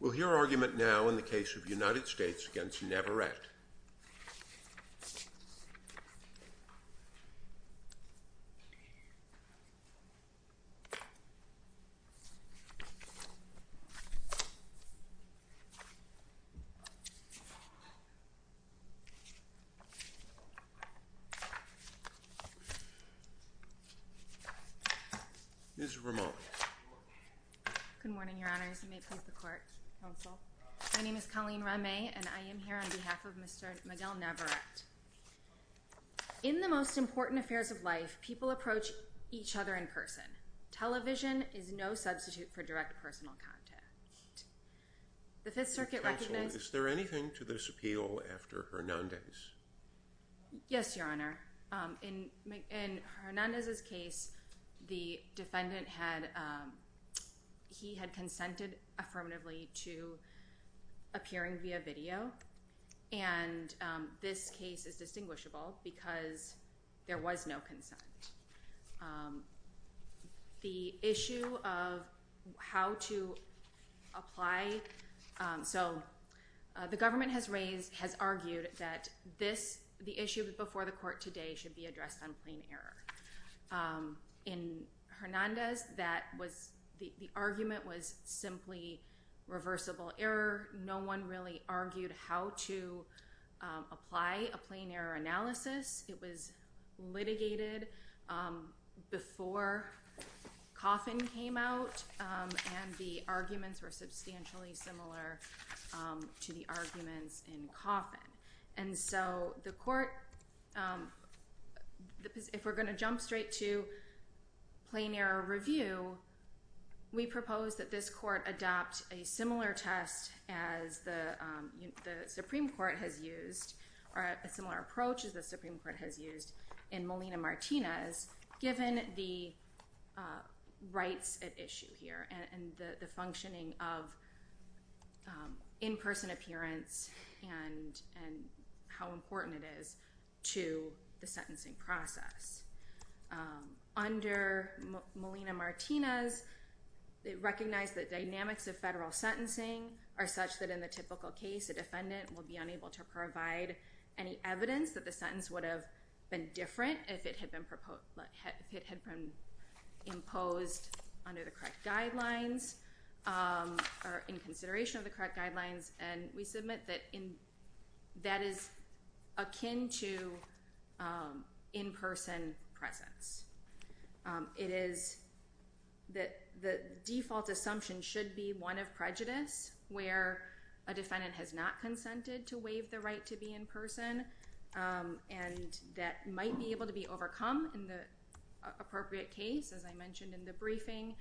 We'll hear argument now in the case of United States v. Navarrete. Ms. Ramon. Good morning, Your Honors. You may please the court. Counsel. My name is Colleen Ramay, and I am here on behalf of Mr. Miguel Navarrete. In the most important affairs of life, people approach each other in person. Television is no substitute for direct personal contact. The Fifth Circuit recognized— Counsel, is there anything to this appeal after Hernandez? Yes, Your Honor. In Hernandez's case, the defendant had—he had consented affirmatively to appearing via video. And this case is distinguishable because there was no consent. The issue of how to apply— In Hernandez, that was—the argument was simply reversible error. No one really argued how to apply a plain error analysis. It was litigated before Coffin came out, and the arguments were substantially similar to the arguments in Coffin. And so the court—if we're going to jump straight to plain error review, we propose that this court adopt a similar test as the Supreme Court has used— or a similar approach as the Supreme Court has used in Molina-Martinez, given the rights at issue here and the functioning of in-person appearance and how important it is to the sentencing process. Under Molina-Martinez, it recognized that dynamics of federal sentencing are such that in the typical case, a defendant will be unable to provide any evidence that the sentence would have been different if it had been imposed under the correct guidelines or in consideration of the correct guidelines. And we submit that that is akin to in-person presence. It is—the default assumption should be one of prejudice, where a defendant has not consented to waive the right to be in person, and that might be able to be overcome in the appropriate case, as I mentioned in the briefing.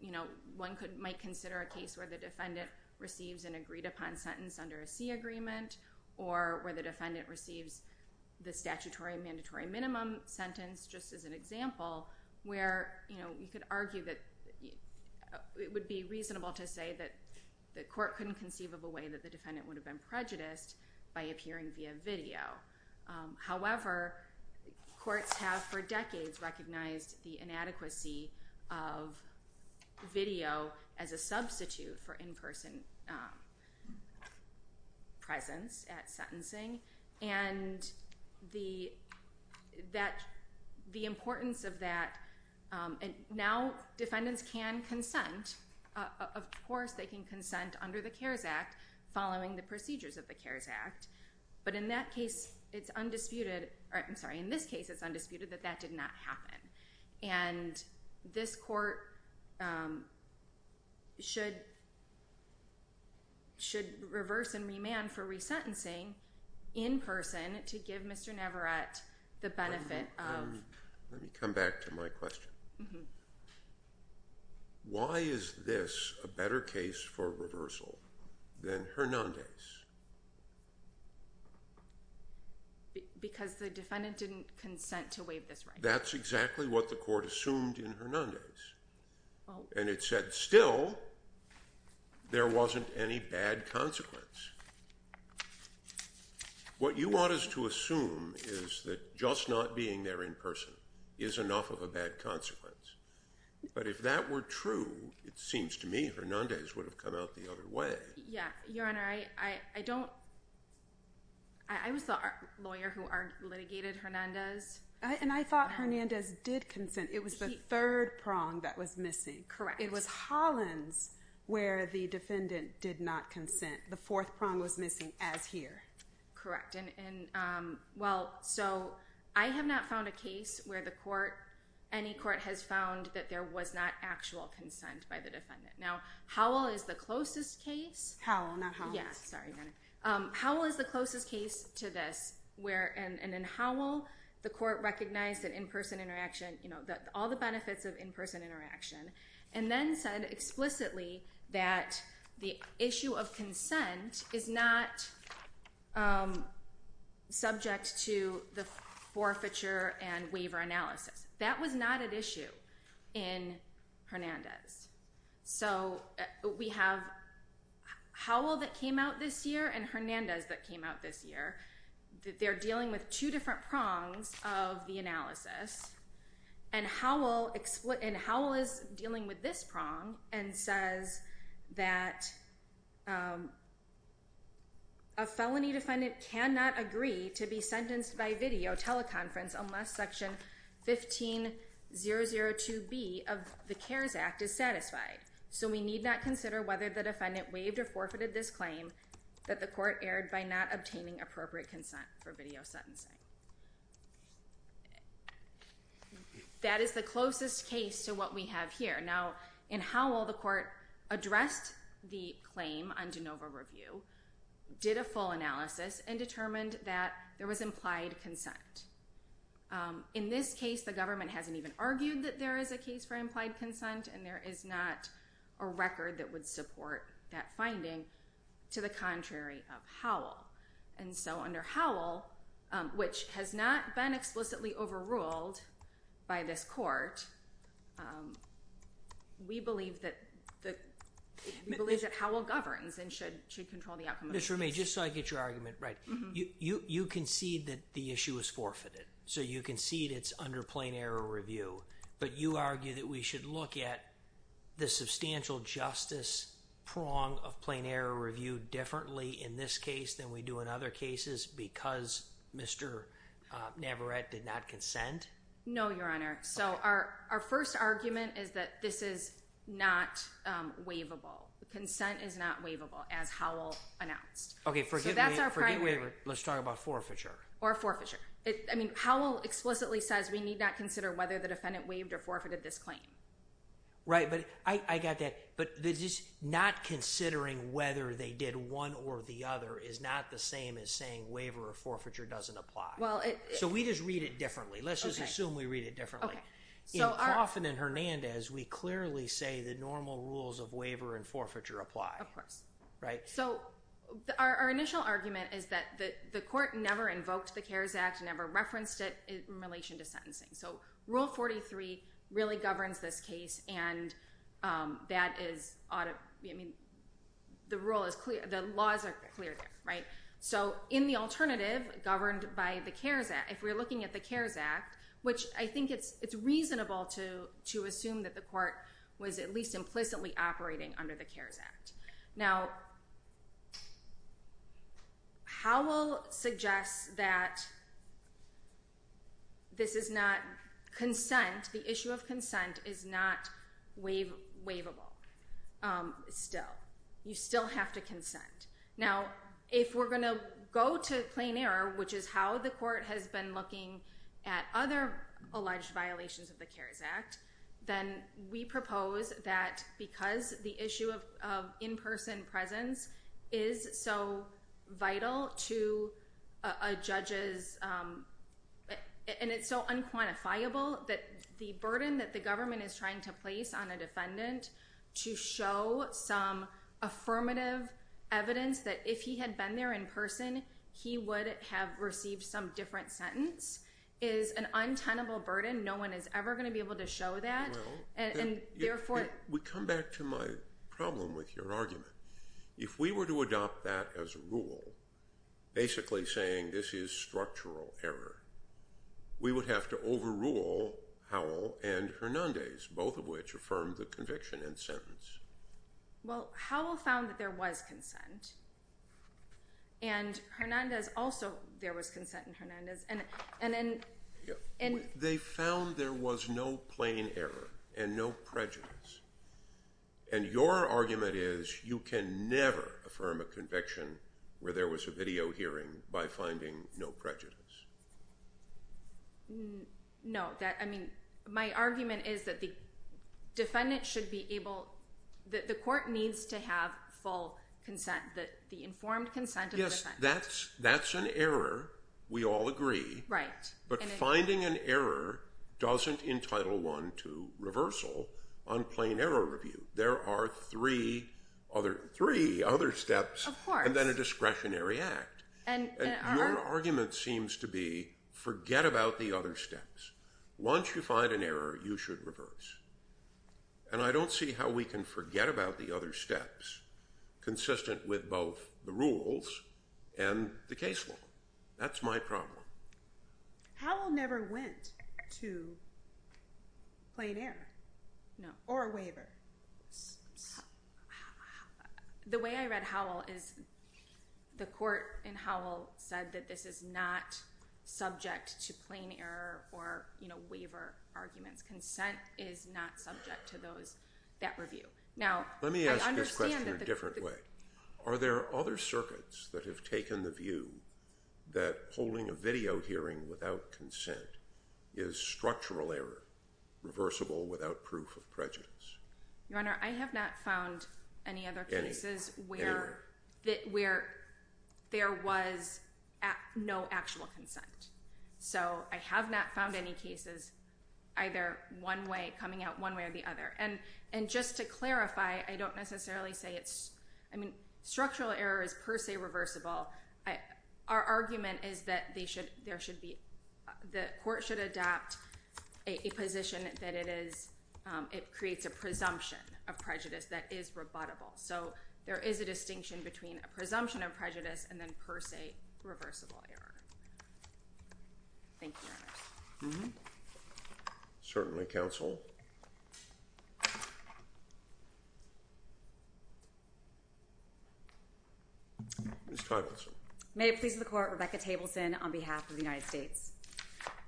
You know, one might consider a case where the defendant receives an agreed-upon sentence under a C agreement or where the defendant receives the statutory mandatory minimum sentence, just as an example, where, you know, you could argue that it would be reasonable to say that the court couldn't conceive of a way that the defendant would have been prejudiced by appearing via video. However, courts have for decades recognized the inadequacy of video as a substitute for in-person presence at sentencing, and the importance of that—now, defendants can consent. Of course, they can consent under the CARES Act following the procedures of the CARES Act, but in that case, it's undisputed—I'm sorry, in this case, it's undisputed that that did not happen. And this court should reverse and remand for resentencing in person to give Mr. Navarette the benefit of— Because the defendant didn't consent to waive this right. That's exactly what the court assumed in Hernandez. And it said, still, there wasn't any bad consequence. What you want us to assume is that just not being there in person is enough of a bad consequence. But if that were true, it seems to me Hernandez would have come out the other way. Your Honor, I don't—I was the lawyer who litigated Hernandez. And I thought Hernandez did consent. It was the third prong that was missing. Correct. It was Hollins where the defendant did not consent. The fourth prong was missing, as here. Correct. And, well, so I have not found a case where the court, any court, has found that there was not actual consent by the defendant. Now, Howell is the closest case— Howell, not Hollins. Yeah, sorry, Your Honor. Howell is the closest case to this where—and in Howell, the court recognized that in-person interaction, you know, all the benefits of in-person interaction, and then said explicitly that the issue of consent is not subject to the forfeiture and waiver analysis. That was not at issue in Hernandez. So we have Howell that came out this year and Hernandez that came out this year. They're dealing with two different prongs of the analysis. And Howell is dealing with this prong and says that a felony defendant cannot agree to be sentenced by video teleconference unless Section 15002B of the CARES Act is satisfied. So we need not consider whether the defendant waived or forfeited this claim that the court erred by not obtaining appropriate consent for video sentencing. That is the closest case to what we have here. Now, in Howell, the court addressed the claim on de novo review, did a full analysis, and determined that there was implied consent. In this case, the government hasn't even argued that there is a case for implied consent, and there is not a record that would support that finding to the contrary of Howell. And so under Howell, which has not been explicitly overruled by this court, we believe that Howell governs and should control the outcome of the case. Just for me, just so I get your argument right, you concede that the issue is forfeited. So you concede it's under plain error review. But you argue that we should look at the substantial justice prong of plain error review differently in this case than we do in other cases because Mr. Navarette did not consent? No, Your Honor. So our first argument is that this is not waivable. Consent is not waivable, as Howell announced. Okay, forgive me. So that's our primary argument. Let's talk about forfeiture. Or forfeiture. I mean, Howell explicitly says we need not consider whether the defendant waived or forfeited this claim. Right, but I got that. But not considering whether they did one or the other is not the same as saying waiver or forfeiture doesn't apply. So we just read it differently. Let's just assume we read it differently. In Coffin and Hernandez, we clearly say the normal rules of waiver and forfeiture apply. Of course. Right? So our initial argument is that the court never invoked the CARES Act, never referenced it in relation to sentencing. So Rule 43 really governs this case, and that is ought to be, I mean, the rule is clear. The laws are clear there, right? So in the alternative governed by the CARES Act, if we're looking at the CARES Act, which I think it's reasonable to assume that the court was at least implicitly operating under the CARES Act. Now, Howell suggests that this is not consent, the issue of consent is not waivable still. You still have to consent. Now, if we're going to go to plain error, which is how the court has been looking at other alleged violations of the CARES Act, then we propose that because the issue of in-person presence is so vital to a judge's, and it's so unquantifiable that the burden that the government is trying to place on a defendant to show some affirmative evidence that if he had been there in person, he would have received some different sentence, is an untenable burden. No one is ever going to be able to show that. Well, we come back to my problem with your argument. If we were to adopt that as a rule, basically saying this is structural error, we would have to overrule Howell and Hernandez, both of which affirmed the conviction and sentence. Well, Howell found that there was consent, and Hernandez also, there was consent in Hernandez. They found there was no plain error and no prejudice. And your argument is you can never affirm a conviction where there was a video hearing by finding no prejudice. No. I mean, my argument is that the court needs to have full consent, the informed consent of the defendant. Yes, that's an error. We all agree. Right. But finding an error doesn't entitle one to reversal on plain error review. There are three other steps and then a discretionary act. And your argument seems to be forget about the other steps. Once you find an error, you should reverse. And I don't see how we can forget about the other steps consistent with both the rules and the case law. That's my problem. Howell never went to plain error or a waiver. The way I read Howell is the court in Howell said that this is not subject to plain error or waiver arguments. Consent is not subject to that review. Let me ask this question a different way. Are there other circuits that have taken the view that holding a video hearing without consent is structural error, reversible without proof of prejudice? Your Honor, I have not found any other cases where there was no actual consent. So I have not found any cases either one way coming out one way or the other. And just to clarify, I don't necessarily say it's, I mean, structural error is per se reversible. Our argument is that the court should adapt a position that it creates a presumption of prejudice that is rebuttable. So there is a distinction between a presumption of prejudice and then per se reversible error. Thank you, Your Honor. Certainly, counsel. Ms. Tableson. May it please the court, Rebecca Tableson on behalf of the United States.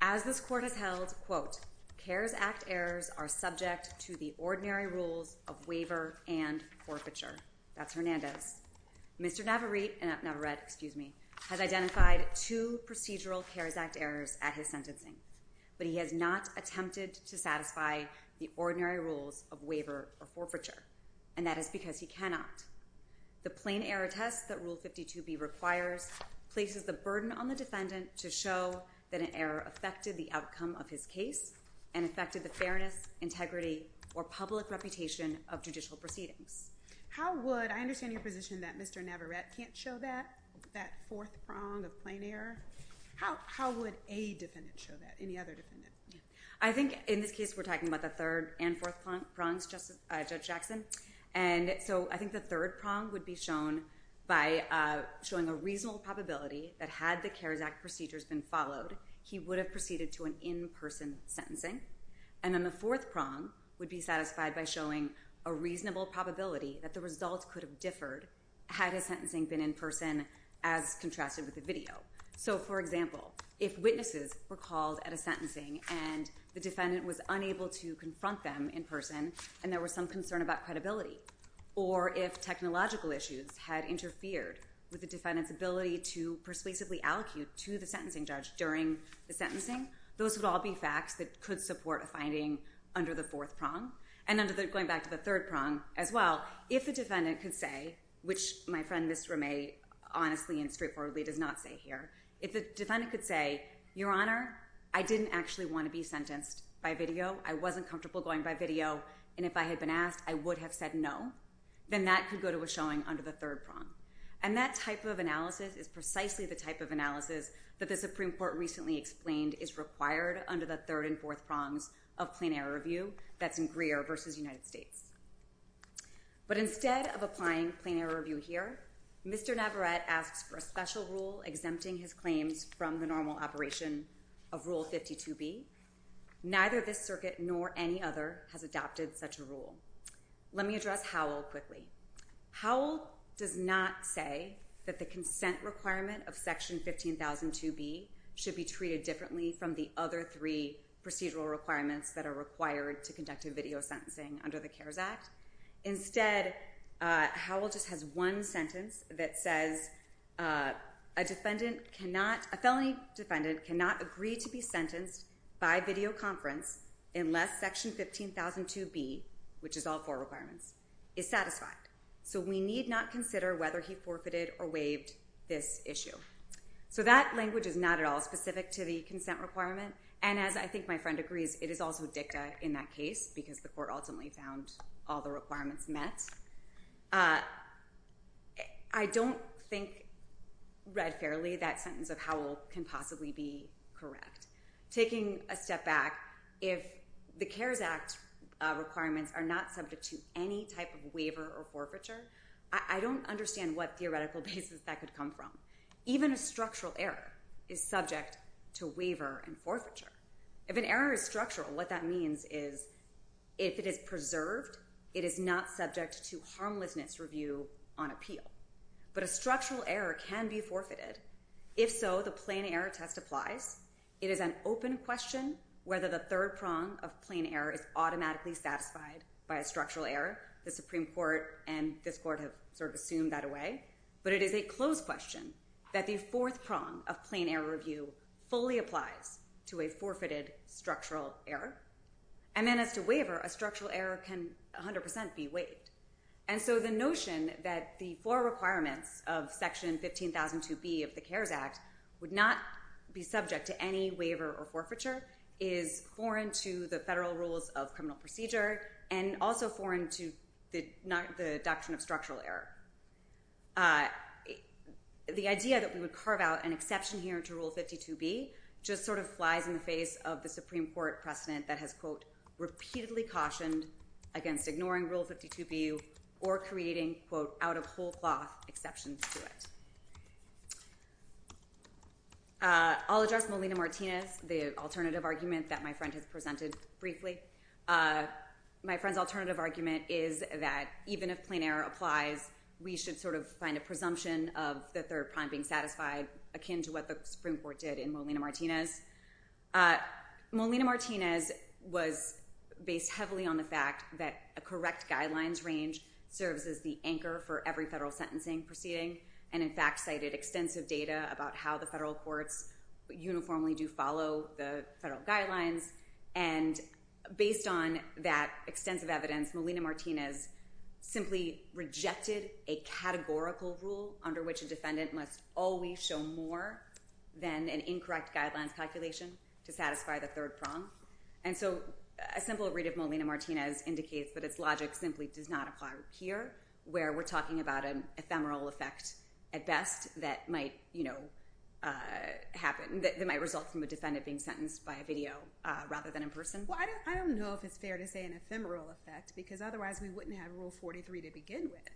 As this court has held, quote, CARES Act errors are subject to the ordinary rules of waiver and forfeiture. That's Hernandez. Mr. Navarrete, Navarrete, excuse me, has identified two procedural CARES Act errors at his sentencing. But he has not attempted to satisfy the ordinary rules of waiver or forfeiture. And that is because he cannot. The plain error test that Rule 52B requires places the burden on the defendant to show that an error affected the outcome of his case and affected the fairness, integrity, or public reputation of judicial proceedings. How would, I understand your position that Mr. Navarrete can't show that, that fourth prong of plain error. How would a defendant show that, any other defendant? I think in this case we're talking about the third and fourth prongs, Judge Jackson. And so I think the third prong would be shown by showing a reasonable probability that had the CARES Act procedures been followed, he would have proceeded to an in-person sentencing. And then the fourth prong would be satisfied by showing a reasonable probability that the results could have differed had his sentencing been in person as contrasted with the video. So, for example, if witnesses were called at a sentencing and the defendant was unable to confront them in person and there was some concern about credibility. Or if technological issues had interfered with the defendant's ability to persuasively allocate to the sentencing judge during the sentencing. Those would all be facts that could support a finding under the fourth prong. And under the, going back to the third prong as well, if the defendant could say, which my friend Ms. Ramay honestly and straightforwardly does not say here. If the defendant could say, Your Honor, I didn't actually want to be sentenced by video. I wasn't comfortable going by video. And if I had been asked, I would have said no. Then that could go to a showing under the third prong. And that type of analysis is precisely the type of analysis that the Supreme Court recently explained is required under the third and fourth prongs of plain error review. That's in Greer versus United States. But instead of applying plain error review here, Mr. Navarette asks for a special rule exempting his claims from the normal operation of Rule 52B. Neither this circuit nor any other has adopted such a rule. Let me address Howell quickly. Howell does not say that the consent requirement of Section 15,002B should be treated differently from the other three procedural requirements that are required to conduct a video sentencing under the CARES Act. Instead, Howell just has one sentence that says, A felony defendant cannot agree to be sentenced by videoconference unless Section 15,002B, which is all four requirements, is satisfied. So we need not consider whether he forfeited or waived this issue. So that language is not at all specific to the consent requirement. And as I think my friend agrees, it is also dicta in that case, because the court ultimately found all the requirements met. I don't think read fairly that sentence of Howell can possibly be correct. Taking a step back, if the CARES Act requirements are not subject to any type of waiver or forfeiture, I don't understand what theoretical basis that could come from. Even a structural error is subject to waiver and forfeiture. If an error is structural, what that means is if it is preserved, it is not subject to harmlessness review on appeal. But a structural error can be forfeited. If so, the plain error test applies. It is an open question whether the third prong of plain error is automatically satisfied by a structural error. The Supreme Court and this court have sort of assumed that away. But it is a closed question that the fourth prong of plain error review fully applies to a forfeited structural error. And then as to waiver, a structural error can 100% be waived. And so the notion that the four requirements of Section 15,002B of the CARES Act would not be subject to any waiver or forfeiture is foreign to the federal rules of criminal procedure and also foreign to the doctrine of structural error. The idea that we would carve out an exception here to Rule 52B just sort of flies in the face of the Supreme Court precedent that has, quote, repeatedly cautioned against ignoring Rule 52B or creating, quote, out of whole cloth exceptions to it. I'll address Molina-Martinez, the alternative argument that my friend has presented briefly. My friend's alternative argument is that even if plain error applies, we should sort of find a presumption of the third prong being satisfied akin to what the Supreme Court did in Molina-Martinez. Molina-Martinez was based heavily on the fact that a correct guidelines range serves as the anchor for every federal sentencing proceeding and, in fact, cited extensive data about how the federal courts uniformly do follow the federal guidelines. And based on that extensive evidence, Molina-Martinez simply rejected a categorical rule under which a defendant must always show more than an incorrect guidelines calculation to satisfy the third prong. And so a simple read of Molina-Martinez indicates that its logic simply does not apply here where we're talking about an ephemeral effect at best that might result from a defendant being sentenced by a video rather than in person. Well, I don't know if it's fair to say an ephemeral effect because otherwise we wouldn't have Rule 43 to begin with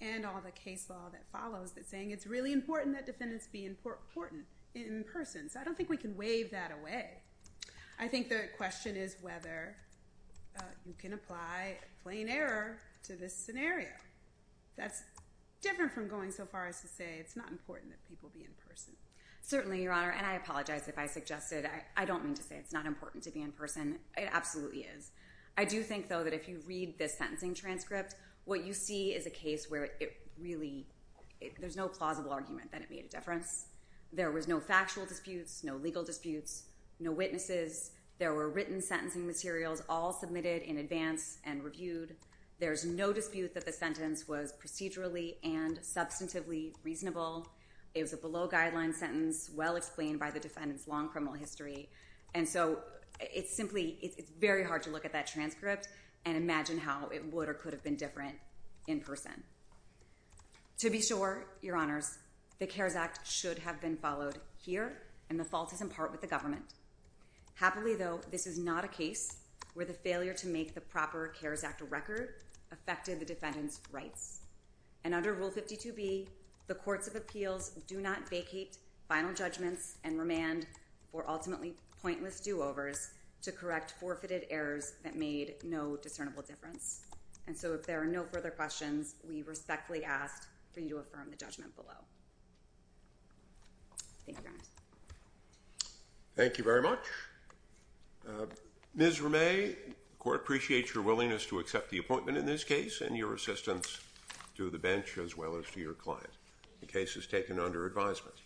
and all the case law that follows that's saying it's really important that defendants be important in person. So I don't think we can waive that away. I think the question is whether you can apply plain error to this scenario. That's different from going so far as to say it's not important that people be in person. Certainly, Your Honor. And I apologize if I suggested I don't mean to say it's not important to be in person. It absolutely is. I do think, though, that if you read this sentencing transcript, what you see is a case where it really there's no plausible argument that it made a difference. There was no factual disputes, no legal disputes, no witnesses. There were written sentencing materials all submitted in advance and reviewed. There's no dispute that the sentence was procedurally and substantively reasonable. It was a below-guideline sentence well explained by the defendant's long criminal history. And so it's simply it's very hard to look at that transcript and imagine how it would or could have been different in person. To be sure, Your Honors, the CARES Act should have been followed here, and the fault is in part with the government. Happily, though, this is not a case where the failure to make the proper CARES Act a record affected the defendant's rights. And under Rule 52B, the courts of appeals do not vacate final judgments and remand for ultimately pointless do-overs to correct forfeited errors that made no discernible difference. And so if there are no further questions, we respectfully ask for you to affirm the judgment below. Thank you, Your Honors. Thank you very much. Ms. Ramey, the court appreciates your willingness to accept the appointment in this case and your assistance to the bench as well as to your client. The case is taken under advisement.